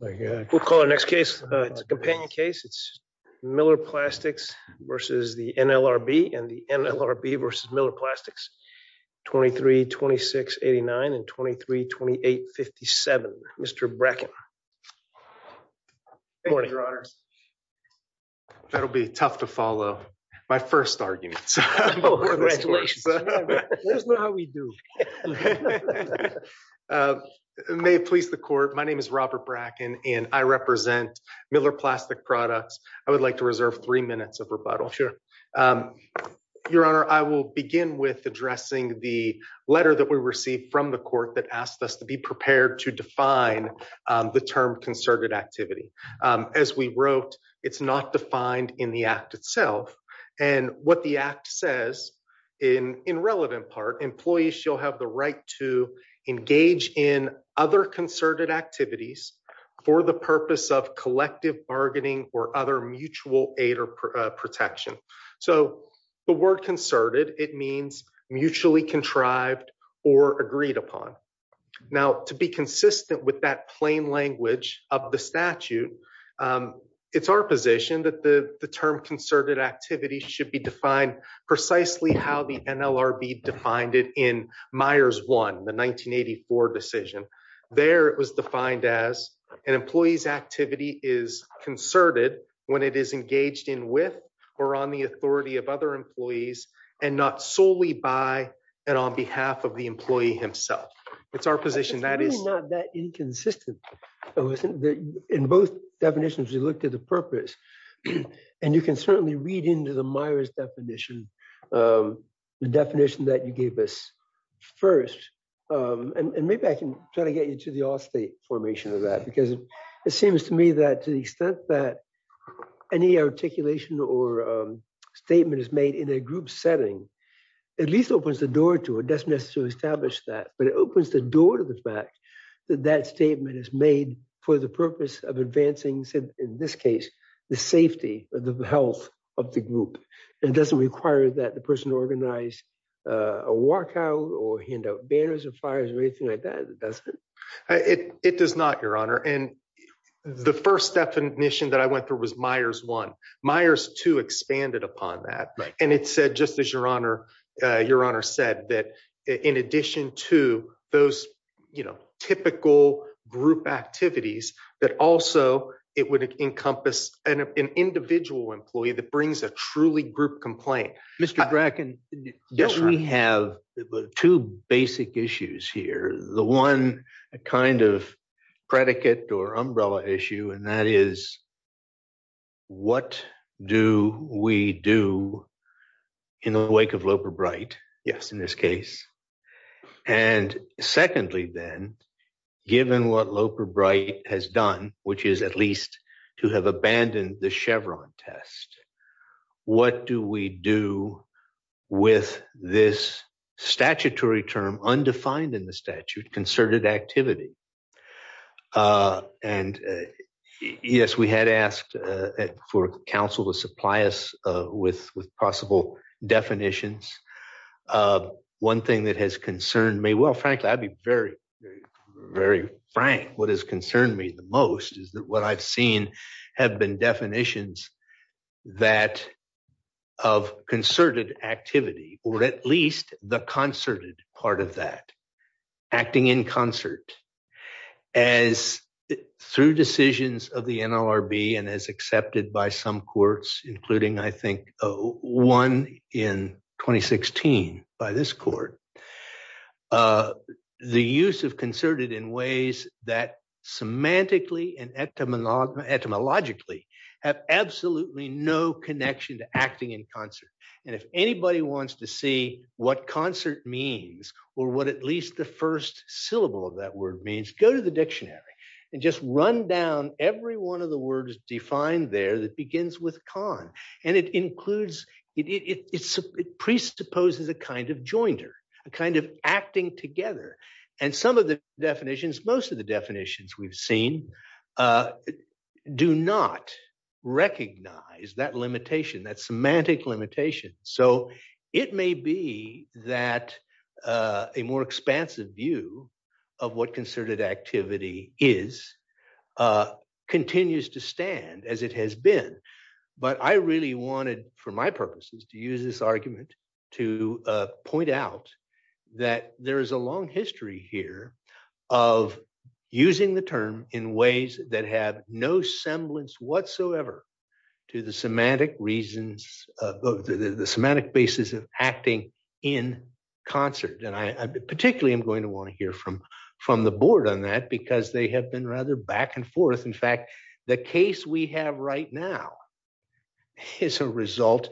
We'll call our next case, it's a companion case. It's Miller Plastics v. the NLRB and the NLRB v. Miller Plastics, 23-2689 and 23-2857. Mr. Bracken. Thank you, Your Honors. That'll be tough to follow. My first argument. Oh, congratulations. Let us know how we do. May it please the court. My name is Robert Bracken and I represent Miller Plastic Products. I would like to reserve three minutes of rebuttal. Your Honor, I will begin with addressing the letter that we received from the court that asked us to be prepared to define the term concerted activity. As we wrote, it's not defined in the act itself. And what the act says in relevant part, employees shall have the right to engage in other concerted activities for the purpose of collective bargaining or other mutual aid or protection. So the word concerted, it means mutually contrived or agreed upon. Now, to be consistent with that plain language of the statute, it's our position that the term concerted activity should be defined precisely how the NLRB defined it in Myers 1, the 1984 decision. There it was defined as an employee's activity is concerted when it is engaged in with or on the authority of other employees and not solely by and on behalf of the employee himself. It's our position that is- It's really not that inconsistent. In both definitions, we looked at the purpose and you can certainly read into the Myers definition, the definition that you gave us first. And maybe I can try to get you to the all state formation of that, because it seems to me that to the extent that any articulation or statement is made in a group setting, at least opens the door to it, doesn't necessarily establish that, but it opens the door to the fact that that statement is made for the purpose of advancing, in this case, the safety or the health of the group. It doesn't require that the person organize a walkout or hand out banners or fires or anything like that, it doesn't. It does not, your honor. And the first definition that I went through was Myers 1. Myers 2 expanded upon that. And it said, just as your honor said, that in addition to those typical group activities, that also it would encompass an individual employee that brings a truly group complaint. Mr. Bracken. Yes, we have two basic issues here. The one kind of predicate or umbrella issue, and that is what do we do in the wake of Loper Bright? Yes, in this case. And secondly, then, given what Loper Bright has done, which is at least to have abandoned the Chevron test, what do we do with this statutory term, undefined in the statute, concerted activity? And yes, we had asked for counsel to supply us with possible definitions. One thing that has concerned me, well, frankly, I'd be very, very frank. What has concerned me the most is that what I've seen have been definitions that of concerted activity, or at least the concerted part of that, acting in concert as through decisions of the NLRB and as accepted by some courts, including I think one in 2016 by this court, the use of concerted in ways that semantically and etymologically have absolutely no connection to acting in concert. And if anybody wants to see what concert means, or what at least the first syllable of that word means, go to the dictionary and just run down every one of the words defined there that begins with con. And it includes, it presupposes a kind of jointer, a kind of acting together. And some of the definitions, most of the definitions we've seen do not recognize that limitation, that semantic limitation. So it may be that a more expansive view of what concerted activity is continues to stand as it has been. But I really wanted, for my purposes, to use this argument to point out that there is a long history here of using the term in ways that have no semblance whatsoever to the semantic reasons, the semantic basis of acting in concert. And I particularly am going to wanna hear from the board on that, because they have been rather back and forth. In fact, the case we have right now is a result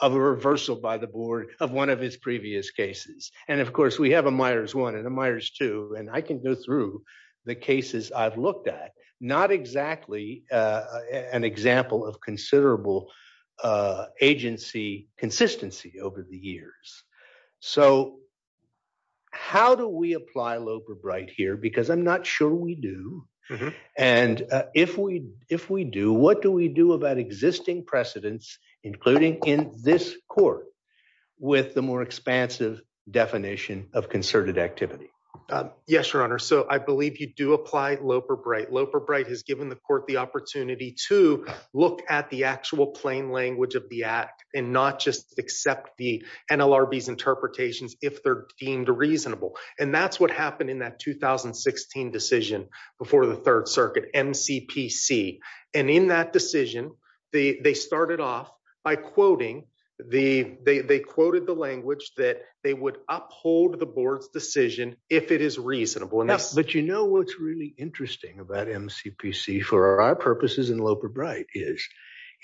of a reversal by the board of one of his previous cases. And of course we have a Myers one and a Myers two, and I can go through the cases I've looked at. Not exactly an example of considerable agency, consistency over the years. So how do we apply Loeb or Bright here? Because I'm not sure we do. And if we do, what do we do about existing precedents, including in this court, with the more expansive definition of concerted activity? Yes, your honor. So I believe you do apply Loeb or Bright. Loeb or Bright has given the court the opportunity to look at the actual plain language of the act and not just accept the NLRB's interpretations if they're deemed reasonable. And that's what happened in that 2016 decision before the third circuit, MCPC. And in that decision, they started off by quoting, they quoted the language that they would uphold the board's decision if it is reasonable. But you know what's really interesting about MCPC for our purposes in Loeb or Bright is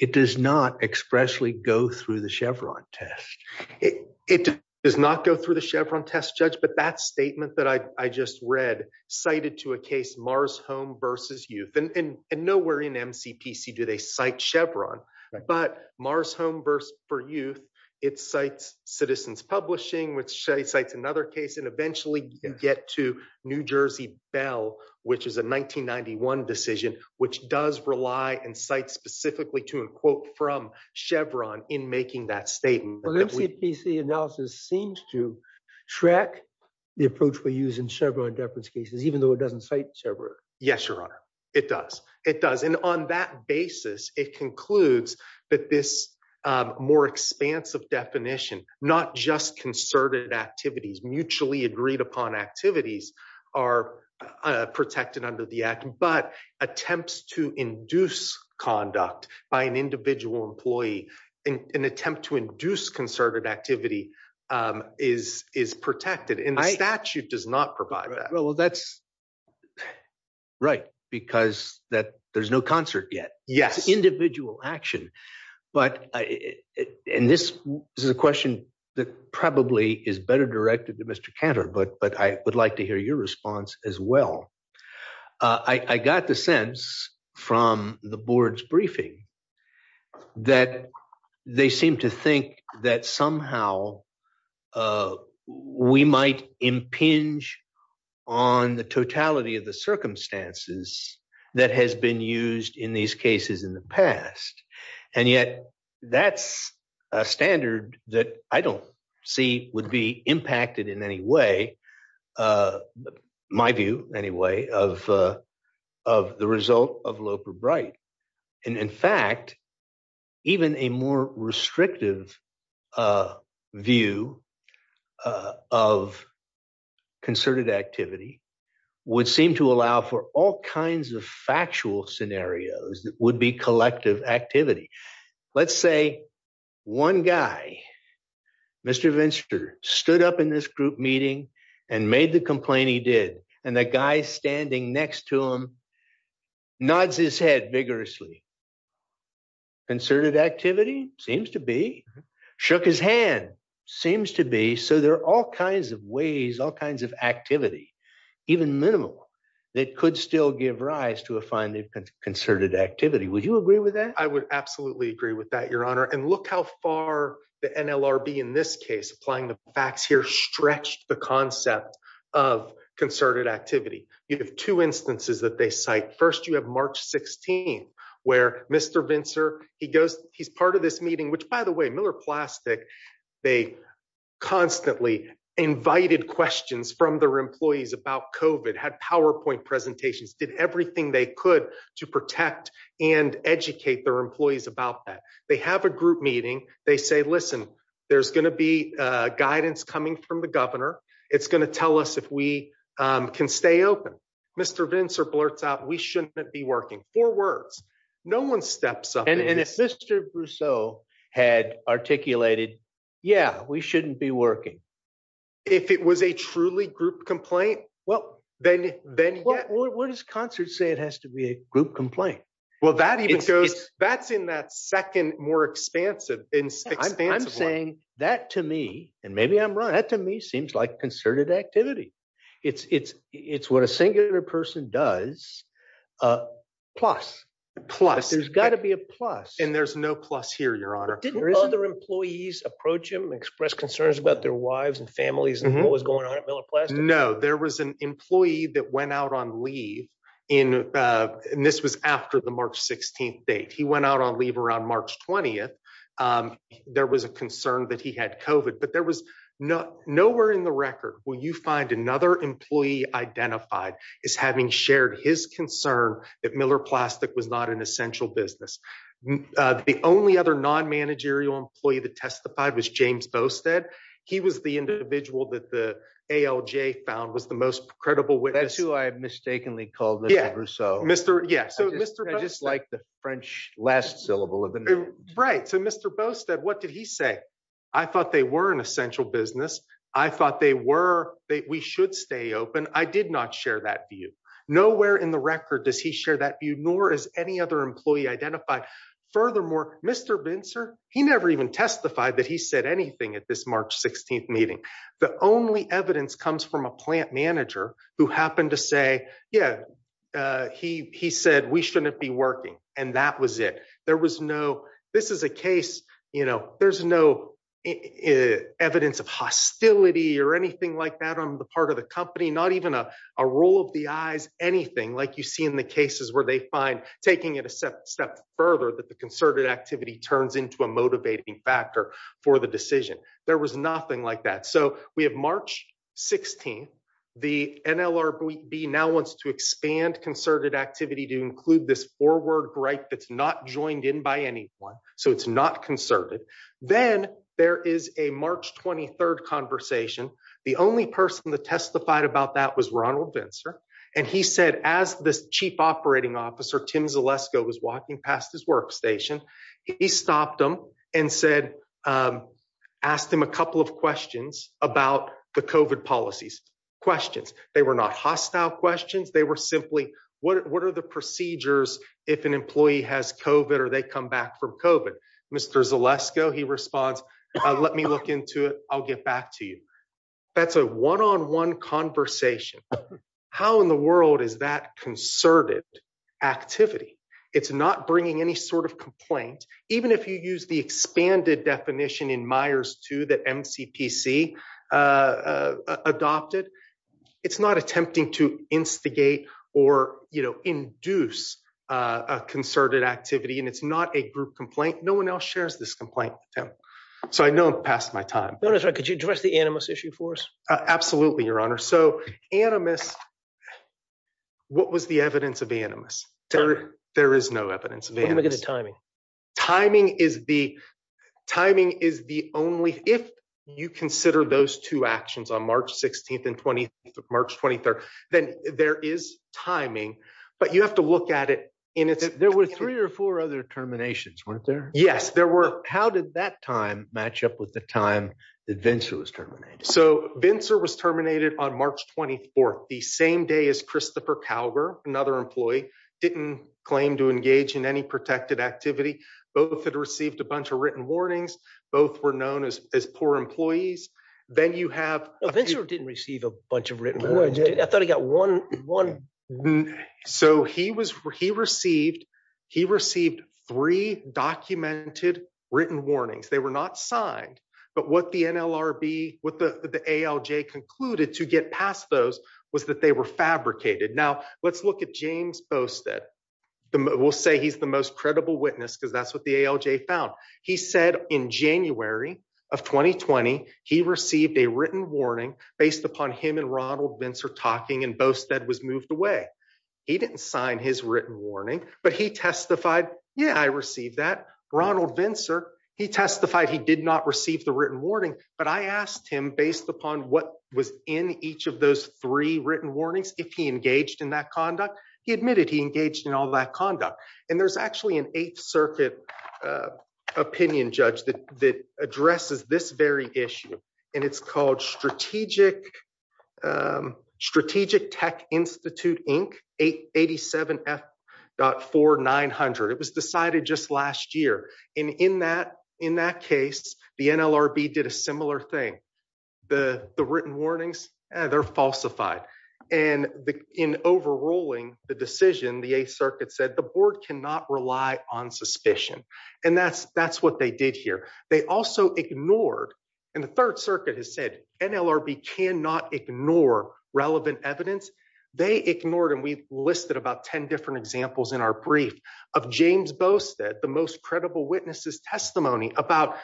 it does not expressly go through the Chevron test. It does not go through the Chevron test, judge, but that statement that I just read cited to a case Mars Home versus Youth. And nowhere in MCPC do they cite Chevron, but Mars Home versus Youth, it cites Citizens Publishing, which cites another case, and eventually you get to New Jersey Bell, which is a 1991 decision, which does rely and cite specifically to, and quote, from Chevron in making that statement. But MCPC analysis seems to track the approach we use in Chevron deference cases, even though it doesn't cite Chevron. Yes, Your Honor, it does. It does, and on that basis, it concludes that this more expansive definition, not just concerted activities, mutually agreed upon activities are protected under the act, but attempts to induce conduct by an individual employee, an attempt to induce concerted activity is protected. And the statute does not provide that. Well, that's... Right, because that there's no concert yet. Yes. It's individual action. But, and this is a question that probably is better directed to Mr. Cantor, but I would like to hear your response as well. I got the sense from the board's briefing that they seem to think that somehow we might impinge on the totality of the circumstances that has been used in these cases in the past. And yet that's a standard that I don't see would be impacted in any way, my view anyway, of the result of Loper-Bright. And in fact, even a more restrictive a view of concerted activity would seem to allow for all kinds of factual scenarios that would be collective activity. Let's say one guy, Mr. Venster, stood up in this group meeting and made the complaint he did and the guy standing next to him nods his head vigorously. Concerted activity? Seems to be. Shook his hand. Seems to be. So there are all kinds of ways, all kinds of activity, even minimal, that could still give rise to a finding of concerted activity. Would you agree with that? I would absolutely agree with that, Your Honor. And look how far the NLRB in this case, applying the facts here, stretched the concept of concerted activity. You have two instances that they cite. First, you have March 16th, where Mr. Venster, he's part of this meeting, which by the way, Miller Plastic, they constantly invited questions from their employees about COVID, had PowerPoint presentations, did everything they could to protect and educate their employees about that. They have a group meeting. They say, listen, there's gonna be guidance coming from the governor. It's gonna tell us if we can stay open. Mr. Venster blurts out, we shouldn't be working. Four words. No one steps up. And if Mr. Brousseau had articulated, yeah, we shouldn't be working. If it was a truly group complaint, well, then yeah. Well, where does concert say it has to be a group complaint? Well, that even goes, that's in that second more expansive one. I'm saying that to me, and maybe I'm wrong, that to me seems like concerted activity. It's what a singular person does. There's gotta be a plus. And there's no plus here, Your Honor. Didn't other employees approach him, express concerns about their wives and families and what was going on at Miller Plastic? No, there was an employee that went out on leave and this was after the March 16th date. He went out on leave around March 20th. There was a concern that he had COVID, but there was nowhere in the record where you find another employee identified as having shared his concern that Miller Plastic was not an essential business. The only other non-managerial employee that testified was James Bostead. He was the individual that the ALJ found was the most credible witness. That's who I mistakenly called Mr. Brousseau. Yeah, so Mr. Bostead- I just like the French last syllable of the name. Right, so Mr. Bostead, what did he say? I thought they were an essential business. I thought they were, we should stay open. I did not share that view. Nowhere in the record does he share that view, nor is any other employee identified. Furthermore, Mr. Bincer, he never even testified that he said anything at this March 16th meeting. The only evidence comes from a plant manager who happened to say, yeah, he said we shouldn't be working. And that was it. There was no, this is a case, there's no evidence of hostility or anything like that on the part of the company, not even a roll of the eyes, anything, like you see in the cases where they find taking it a step further that the concerted activity turns into a motivating factor for the decision. There was nothing like that. So we have March 16th, the NLRB now wants to expand concerted activity to include this forward break that's not joined in by anyone. So it's not concerted. Then there is a March 23rd conversation. The only person that testified about that was Ronald Bincer. And he said, as the chief operating officer, Tim Zalesko was walking past his workstation, he stopped him and said, asked him a couple of questions about the COVID policies, questions. They were not hostile questions. They were simply, what are the procedures if an employee has COVID or they come back from COVID? Mr. Zalesko, he responds, let me look into it. I'll get back to you. That's a one-on-one conversation. How in the world is that concerted activity? It's not bringing any sort of complaint. Even if you use the expanded definition in Myers 2 that MCPC adopted, it's not attempting to instigate or induce a concerted activity. And it's not a group complaint. No one else shares this complaint, Tim. So I know I've passed my time. No, that's right. Could you address the animus issue for us? Absolutely, your honor. So animus, what was the evidence of animus? There is no evidence of animus. What about the timing? Timing is the only, if you consider those two actions on March 16th and March 23rd, then there is timing, but you have to look at it in its- There were three or four other terminations, weren't there? Yes, there were. How did that time match up with the time that Vintzer was terminated? So Vintzer was terminated on March 24th, the same day as Christopher Calgar, another employee, didn't claim to engage in any protected activity. Both had received a bunch of written warnings. Both were known as poor employees. Then you have- Vintzer didn't receive a bunch of written warnings. I thought he got one. So he received three documented written warnings. They were not signed, but what the NLRB, what the ALJ concluded to get past those was that they were fabricated. Now let's look at James Bostead. We'll say he's the most credible witness because that's what the ALJ found. He said in January of 2020, he received a written warning based upon him and Ronald Vintzer talking and Bostead was moved away. He didn't sign his written warning, but he testified, yeah, I received that. Ronald Vintzer, he testified he did not receive the written warning, but I asked him based upon what was in each of those three written warnings, if he engaged in that conduct. He admitted he engaged in all that conduct. And there's actually an Eighth Circuit opinion judge that addresses this very issue. And it's called Strategic Tech Institute Inc. 87F.4900. It was decided just last year. And in that case, the NLRB did a similar thing. The written warnings, they're falsified. And in overruling the decision, the Eighth Circuit said the board cannot rely on suspicion. And that's what they did here. They also ignored, and the Third Circuit has said, NLRB cannot ignore relevant evidence. They ignored, and we listed about 10 different examples in our brief of James Bostead, the most credible witnesses testimony about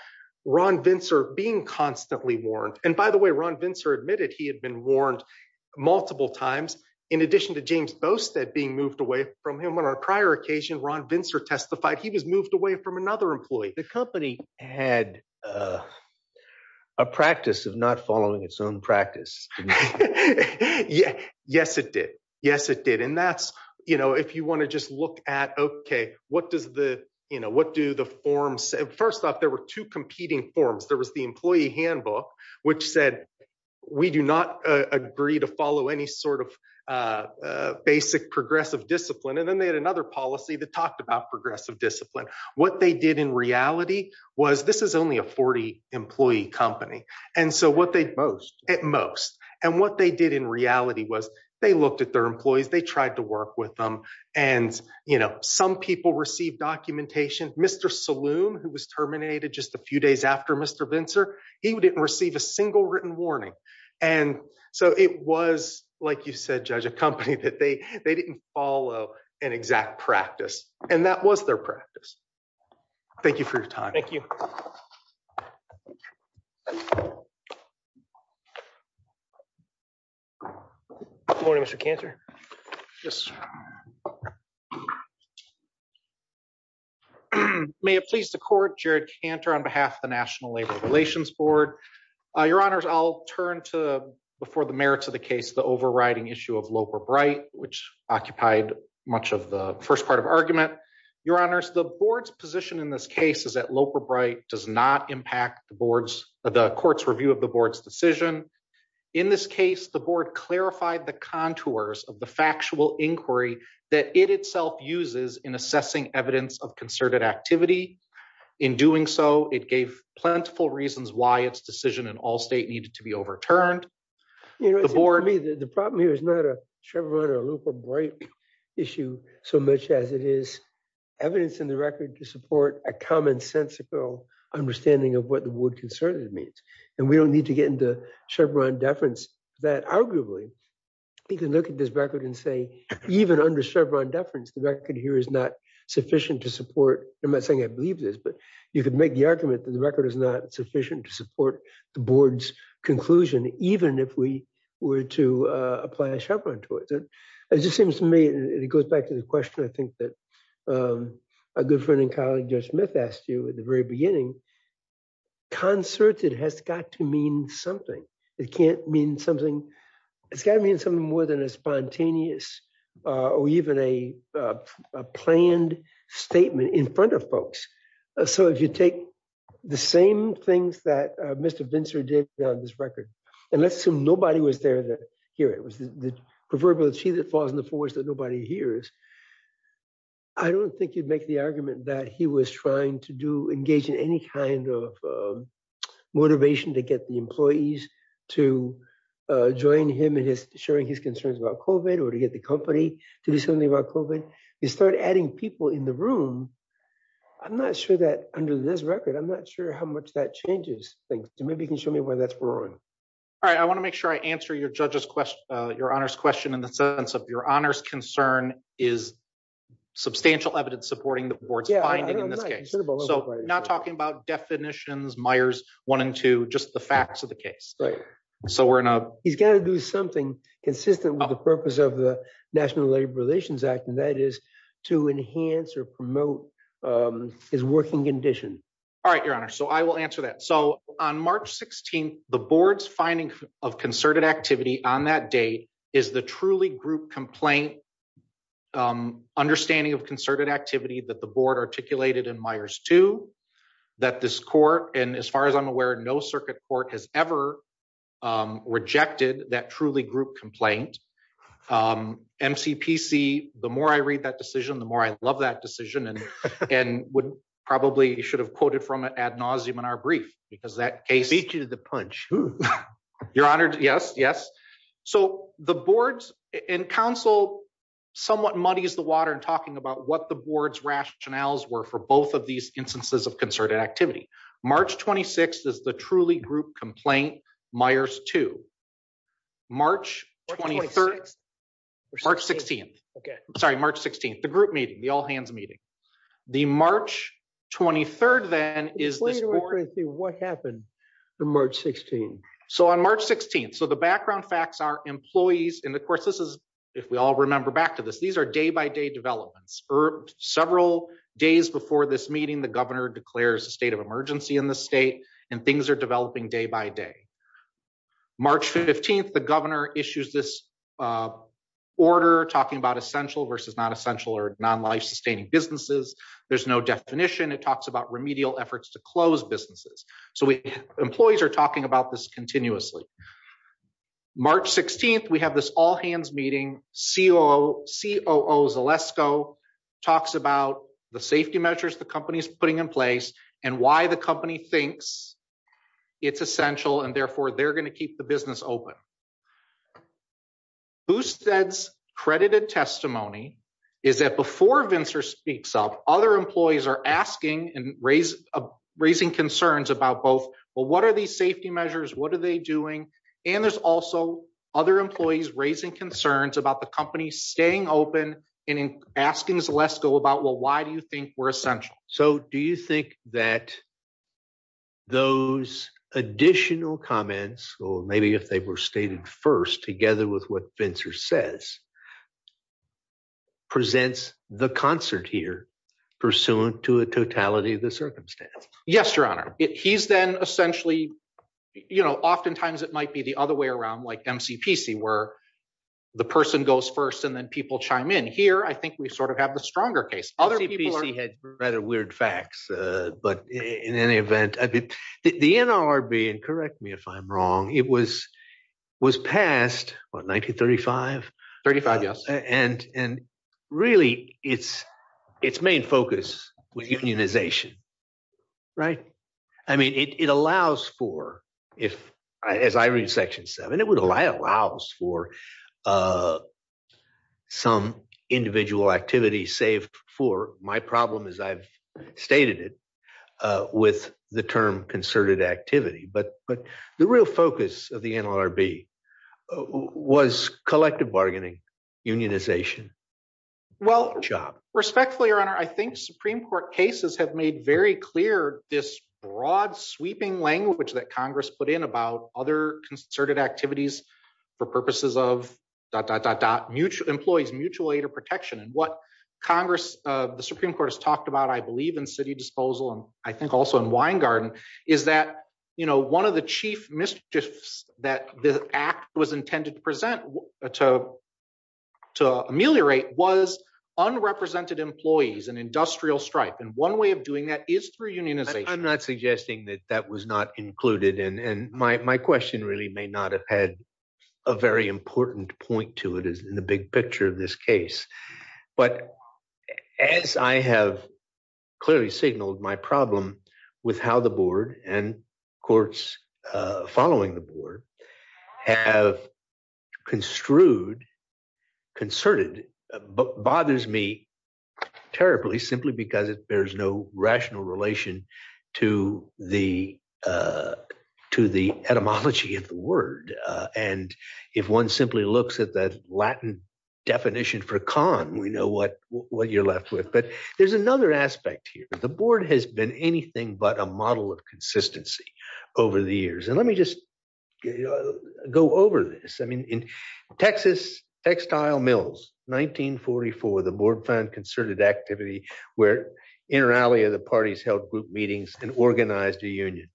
Ron Vintzer being constantly warned. And by the way, Ron Vintzer admitted he had been warned multiple times. In addition to James Bostead being moved away from him on our prior occasion, Ron Vintzer testified he was moved away from another employee. The company had a practice of not following its own practice. Yes, it did. Yes, it did. And that's, you know, if you wanna just look at, okay, what do the forms say? First off, there were two competing forms. There was the employee handbook, which said we do not agree to follow any sort of basic progressive discipline. And then they had another policy that talked about progressive discipline. What they did in reality was, this is only a 40-employee company. And so what they- Most. At most. And what they did in reality was they looked at their employees, they tried to work with them. And, you know, some people received documentation. Mr. Saloom, who was terminated just a few days after Mr. Vintzer, he didn't receive a single written warning. And so it was, like you said, Judge, a company that they didn't follow an exact practice. And that was their practice. Thank you for your time. Thank you. Good morning, Mr. Cantor. Yes. May it please the court, Jared Cantor on behalf of the National Labor Relations Board. Your honors, I'll turn to, before the merits of the case, the overriding issue of Loper-Bright, which occupied much of the first part of argument. Your honors, the board's position in this case is that Loper-Bright does not impact the board's, the court's review of the board's decision. In this case, the board clarified the contours of the factual inquiry that it itself uses in assessing evidence of concerted activity. In doing so, it gave plentiful reasons why its decision in all state needed to be overturned. The board- The problem here is not a Chevron or Loper-Bright issue so much as it is evidence in the record to support a commonsensical understanding of what the word concerted means. And we don't need to get into Chevron deference that arguably you can look at this record and say, even under Chevron deference, the record here is not sufficient to support, I'm not saying I believe this, but you could make the argument that the record is not sufficient to support the board's conclusion, even if we were to apply a Chevron to it. It just seems to me, and it goes back to the question I think that a good friend and colleague, Judge Smith asked you at the very beginning, concerted has got to mean something. It can't mean something, it's gotta mean something more than a spontaneous or even a planned statement in front of folks. So if you take the same things that Mr. Vincer did on this record, and let's assume nobody was there to hear it, it was the proverbial tree that falls in the forest that nobody hears, I don't think you'd make the argument that he was trying to engage in any kind of motivation to get the employees to join him in sharing his concerns about COVID or to get the company to do something about COVID. He started adding people in the room. I'm not sure that under this record, I'm not sure how much that changes things. So maybe you can show me where that's growing. All right, I wanna make sure I answer your honor's question in the sense of your honor's concern is substantial evidence supporting the board's finding in this case. So not talking about definitions, Meyers one and two, just the facts of the case. So we're in a- He's gotta do something consistent with the purpose of the National Labor Relations Act, and that is to enhance or promote his working condition. All right, your honor. So I will answer that. So on March 16th, the board's finding of concerted activity on that date is the truly group complaint understanding of concerted activity that the board articulated in Meyers two, that this court, and as far as I'm aware, no circuit court has ever rejected that truly group complaint. MCPC, the more I read that decision, the more I love that decision and probably should have quoted from it ad nauseum in our brief because that case- Speak to the punch. Your honor, yes, yes. So the boards and council somewhat muddies the water in talking about what the board's rationales were for both of these instances of concerted activity. March 26th is the truly group complaint, Meyers two. March 23rd, March 16th. Sorry, March 16th, the group meeting, the all hands meeting. The March 23rd then is this board- Explain to us what happened on March 16th. So on March 16th, so the background facts are employees, and of course, this is, if we all remember back to this, these are day-by-day developments. Several days before this meeting, the governor declares a state of emergency in the state and things are developing day-by-day. March 15th, the governor issues this order talking about essential versus not essential or non-life sustaining businesses. There's no definition. It talks about remedial efforts to close businesses. So employees are talking about this continuously. March 16th, we have this all hands meeting. COO Zalesko talks about the safety measures the company's putting in place and why the company thinks it's essential and therefore they're going to keep the business open. BoostED's credited testimony is that before Vincer speaks up, other employees are asking and raising concerns about both, well, what are these safety measures? What are they doing? And there's also other employees raising concerns about the company staying open and asking Zalesko about, well, why do you think we're essential? So do you think that those additional comments, or maybe if they were stated first together with what Vincer says, presents the concert here pursuant to a totality of the circumstance? Yes, your honor. He's then essentially, you know, oftentimes it might be the other way around, like MCPC where the person goes first and then people chime in. Here, I think we sort of have the stronger case. Other people are- MCPC had rather weird facts, but in any event, the NLRB, and correct me if I'm wrong, it was passed, what, 1935? 35, yes. And really, its main focus was unionization, right? I mean, it allows for, as I read section seven, it allows for some individual activity save for my problem, as I've stated it, with the term concerted activity. But the real focus of the NLRB was collective bargaining, unionization. Well- Job. Respectfully, your honor, I think Supreme Court cases have made very clear this broad sweeping language that Congress put in about other concerted activities for purposes of dot, dot, dot, dot, employees mutual aid or protection. And what Congress, the Supreme Court has talked about, I believe in city disposal, and I think also in Weingarten, is that one of the chief mischiefs that the act was intended to present to ameliorate was unrepresented employees and industrial strife. And one way of doing that is through unionization. I'm not suggesting that that was not included. And my question really may not have had a very important point to it as in the big picture of this case. But as I have clearly signaled my problem with how the board and courts following the board have construed, concerted, bothers me terribly, simply because there's no rational relation to the etymology of the word. And if one simply looks at that Latin definition for con, we know what you're left with. But there's another aspect here. The board has been anything but a model of consistency over the years. And let me just go over this. I mean, in Texas, textile mills, 1944, the board found concerted activity where inter alia, the parties held group meetings and organized a union.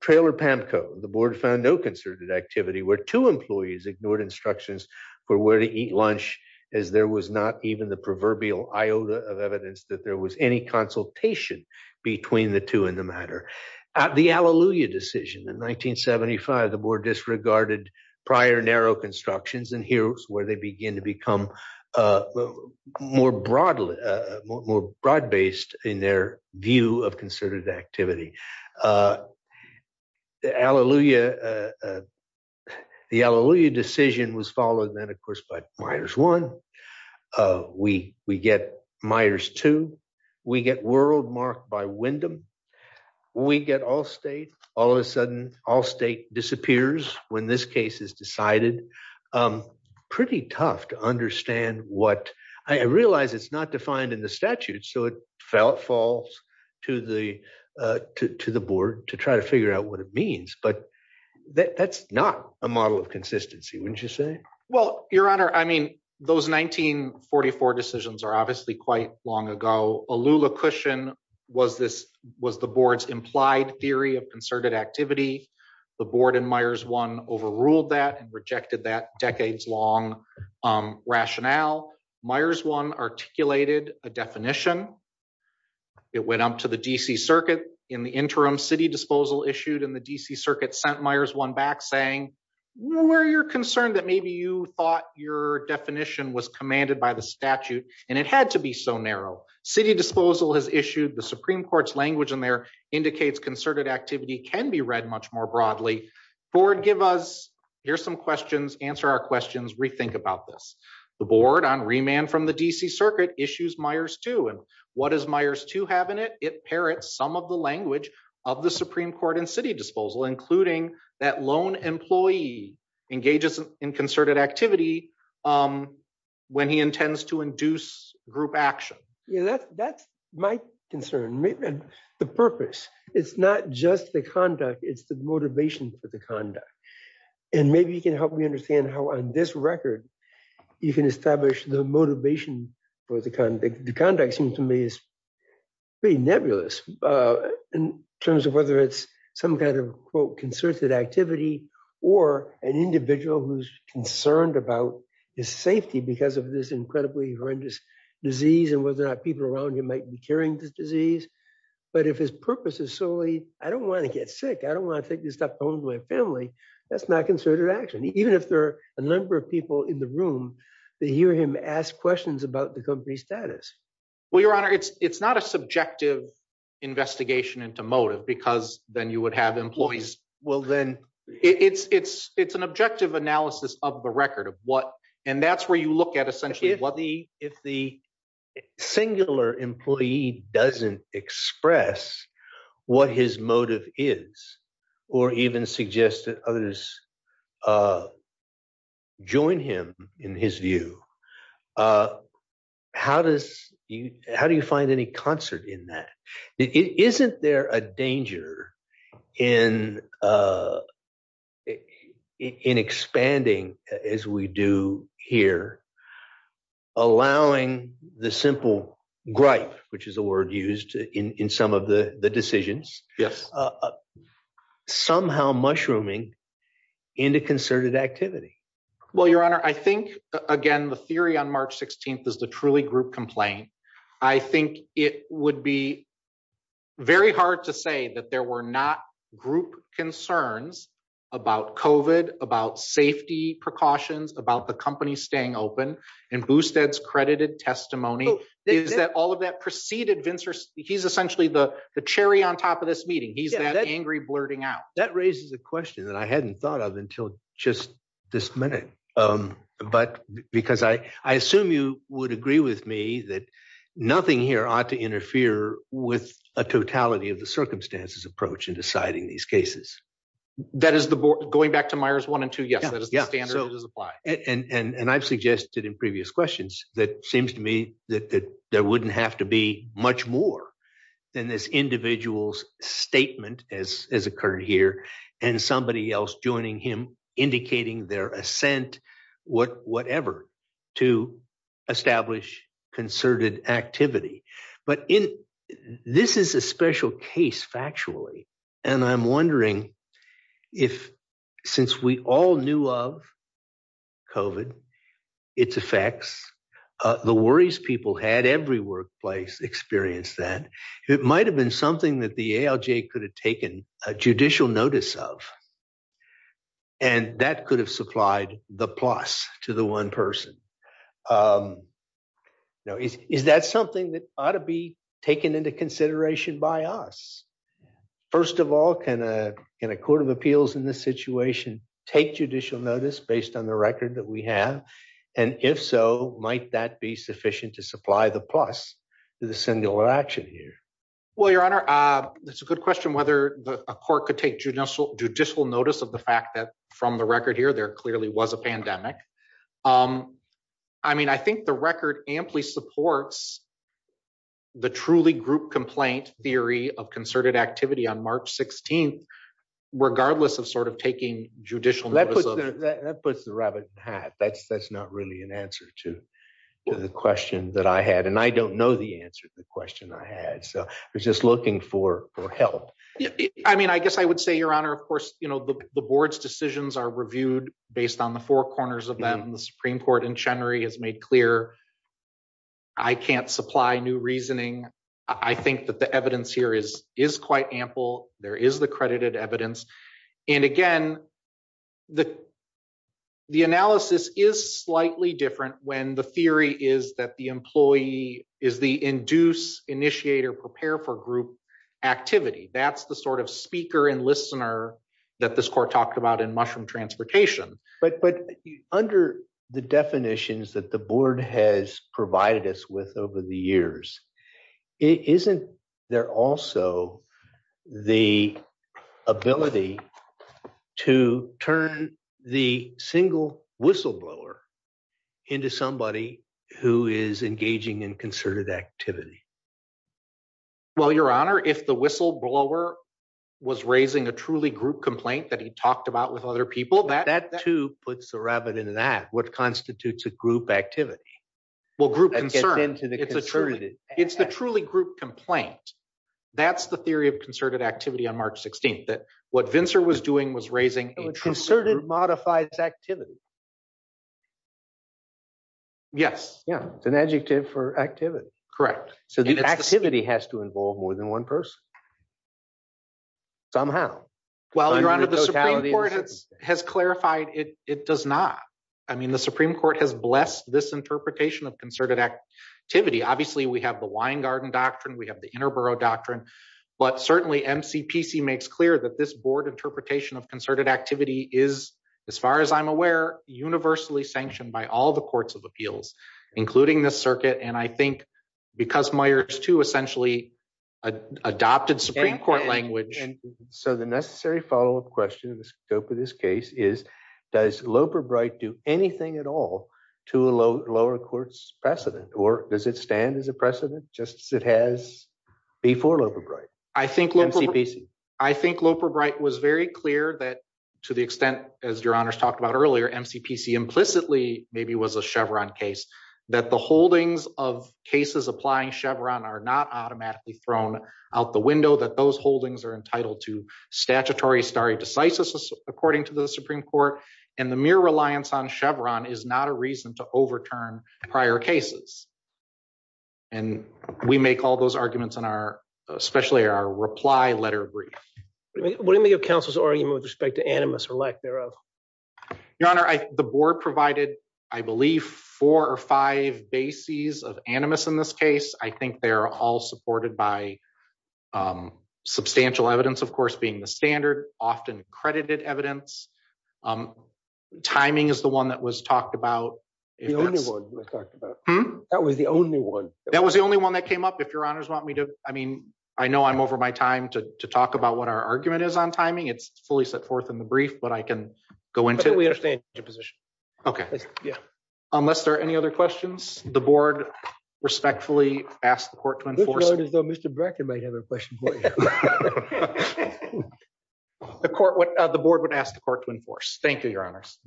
Trailer PAMCO, the board found no concerted activity where two employees ignored instructions for where to eat lunch as there was not even the proverbial iota of evidence that there was any consultation between the two in the matter. The Alleluia decision in 1975, the board disregarded prior narrow constructions and here's where they begin to become more broadly, more broad based in their view of concerted activity. The Alleluia decision was followed then, of course, by Myers one, we get Myers two, we get world marked by Wyndham, we get Allstate, all of a sudden Allstate disappears when this case is decided. Pretty tough to understand what, I realize it's not defined in the statute. So it falls to the board to try to figure out what it means, but that's not a model of consistency, wouldn't you say? Well, your honor, I mean, those 1944 decisions are obviously quite long ago. Alleluia cushion was the board's implied theory of concerted activity. The board in Myers one overruled that and rejected that decades long rationale. Myers one articulated a definition. It went up to the DC circuit in the interim city disposal issued and the DC circuit sent Myers one back saying, we're concerned that maybe you thought your definition was commanded by the statute and it had to be so narrow. City disposal has issued the Supreme Court's language and there indicates concerted activity can be read much more broadly. Board give us, here's some questions, answer our questions, rethink about this. The board on remand from the DC circuit issues Myers two and what is Myers two have in it? It parrots some of the language of the Supreme Court and city disposal, including that loan employee engages in concerted activity when he intends to induce group action. Yeah, that's my concern. The purpose, it's not just the conduct, it's the motivation for the conduct. And maybe you can help me understand how on this record, you can establish the motivation for the conduct. The conduct seems to me is pretty nebulous in terms of whether it's some kind of quote, concerted activity or an individual who's concerned about his safety because of this incredibly horrendous disease and whether or not people around him might be carrying this disease. But if his purpose is solely, I don't wanna get sick, I don't wanna take this stuff home to my family, that's not concerted action. Even if there are a number of people in the room that hear him ask questions about the company status. Well, your honor, it's not a subjective investigation into motive because then you would have employees. Well, then it's an objective analysis of the record of what, and that's where you look at essentially what the- If the singular employee doesn't express what his motive is or even suggest that others join him in his view, how do you find any concert in that? Isn't there a danger in expanding as we do here, allowing the simple gripe, which is a word used in some of the decisions. Yes. Somehow mushrooming into concerted activity. Well, your honor, I think again, the theory on March 16th is the truly group complaint. I think it would be very hard to say that there were not group concerns about COVID, about safety precautions, about the company staying open and Boosted's credited testimony is that all of that preceded Vincent. He's essentially the cherry on top of this meeting. He's that angry blurting out. That raises a question that I hadn't thought of until just this minute, but because I assume you would agree with me that nothing here ought to interfere with a totality of the circumstances approach in deciding these cases. That is the board, going back to Myers one and two, yes, that is the standard that is applied. And I've suggested in previous questions that seems to me that there wouldn't have to be much more than this individual's statement as occurred here and somebody else joining him, indicating their assent, whatever, to establish concerted activity. But this is a special case factually. And I'm wondering if, since we all knew of COVID, its effects, the worries people had, every workplace experienced that, it might've been something that the ALJ could have taken a judicial notice of and that could have supplied the plus to the one person. Is that something that ought to be taken into consideration by us? First of all, can a court of appeals in this situation take judicial notice based on the record that we have? And if so, might that be sufficient to supply the plus to the singular action here? Well, Your Honor, that's a good question whether a court could take judicial notice of the fact that from the record here, there clearly was a pandemic. I mean, I think the record amply supports the truly group complaint theory of concerted activity on March 16th, regardless of sort of taking judicial notice. That puts the rabbit in the hat. That's not really an answer to the question that I had. And I don't know the answer to the question I had. So I was just looking for help. I mean, I guess I would say, Your Honor, of course, the board's decisions are reviewed based on the four corners of them. The Supreme Court in Chenry has made clear, I can't supply new reasoning. I think that the evidence here is quite ample. There is the credited evidence. And again, the analysis is slightly different when the theory is that the employee is the induce, initiate, or prepare for group activity. That's the sort of speaker and listener that this court talked about in mushroom transportation. But under the definitions that the board has provided us with over the years, isn't there also the ability to turn the single whistleblower into somebody who is engaging in concerted activity? Well, Your Honor, if the whistleblower was raising a truly group complaint that he talked about with other people, that too puts the rabbit in the hat. What constitutes a group activity? Well, group concern, it's the truly group complaint. That's the theory of concerted activity on March 16th, that what Vincer was doing was raising a true- Concerted modifies activity. Yes. Yeah, it's an adjective for activity. Correct. So the activity has to involve more than one person. Somehow. Well, Your Honor, the Supreme Court has clarified it does not. The Supreme Court has blessed this interpretation of concerted activity. Obviously we have the Wine Garden Doctrine, we have the Interborough Doctrine, but certainly MCPC makes clear that this board interpretation of concerted activity is, as far as I'm aware, universally sanctioned by all the courts of appeals, including this circuit. And I think because Meyers too, essentially adopted Supreme Court language. So the necessary follow-up question in the scope of this case is, does Loper Bright do anything at all to lower court's precedent? Or does it stand as a precedent just as it has before Loper Bright? I think Loper Bright was very clear that to the extent, as Your Honors talked about earlier, MCPC implicitly maybe was a Chevron case, that the holdings of cases applying Chevron are not automatically thrown out the window, that those holdings are entitled to statutory stare decisis, according to the Supreme Court, and the mere reliance on Chevron is not a reason to overturn prior cases. And we make all those arguments in our, especially our reply letter brief. What do you make of counsel's argument with respect to animus or lack thereof? Your Honor, the board provided, I believe four or five bases of animus in this case. I think they're all supported by substantial evidence, of course, being the standard, often credited evidence. Timing is the one that was talked about. If that's- The only one that was talked about. Hmm? That was the only one. That was the only one that came up. If Your Honors want me to, I mean, I know I'm over my time to talk about what our argument is on timing. It's fully set forth in the brief, but I can go into- I think we understand your position. Okay. Yeah. Unless there are any other questions, the board respectfully asks the court to enforce- This board is though, Mr. Bracken might have a question for you. The board would ask the court to enforce. Thank you, Your Honors.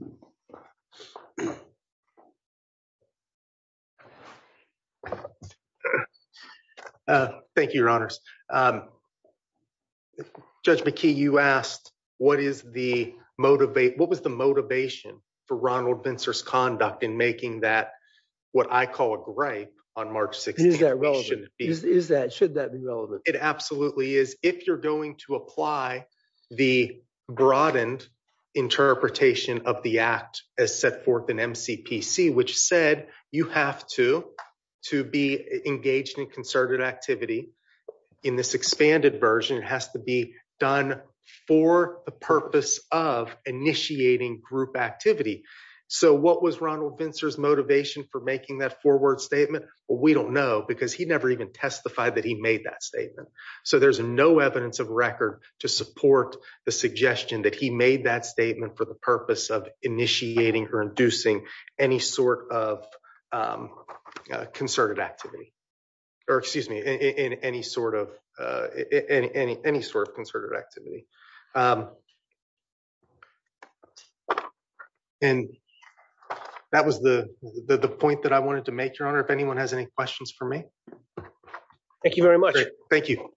Thank you, Your Honors. Judge McKee, you asked, what is the motivate- What was the motivation for Ronald Bincer's conduct in making that, what I call a gripe on March 16th? Should that be? Should that be relevant? It absolutely is. If you're going to apply the broadened interpretation of the act as set forth in MCPC, which said you have to be engaged in concerted activity in this expanded version, it has to be done for the purpose of initiating group activity. So what was Ronald Bincer's motivation for making that forward statement? Well, we don't know because he never even testified that he made that statement. So there's no evidence of record to support the suggestion that he made that statement for the purpose of initiating or inducing any sort of concerted activity, or excuse me, any sort of concerted activity. And that was the point that I wanted to make, Your Honor. If anyone has any questions for me. Thank you very much. Thank you.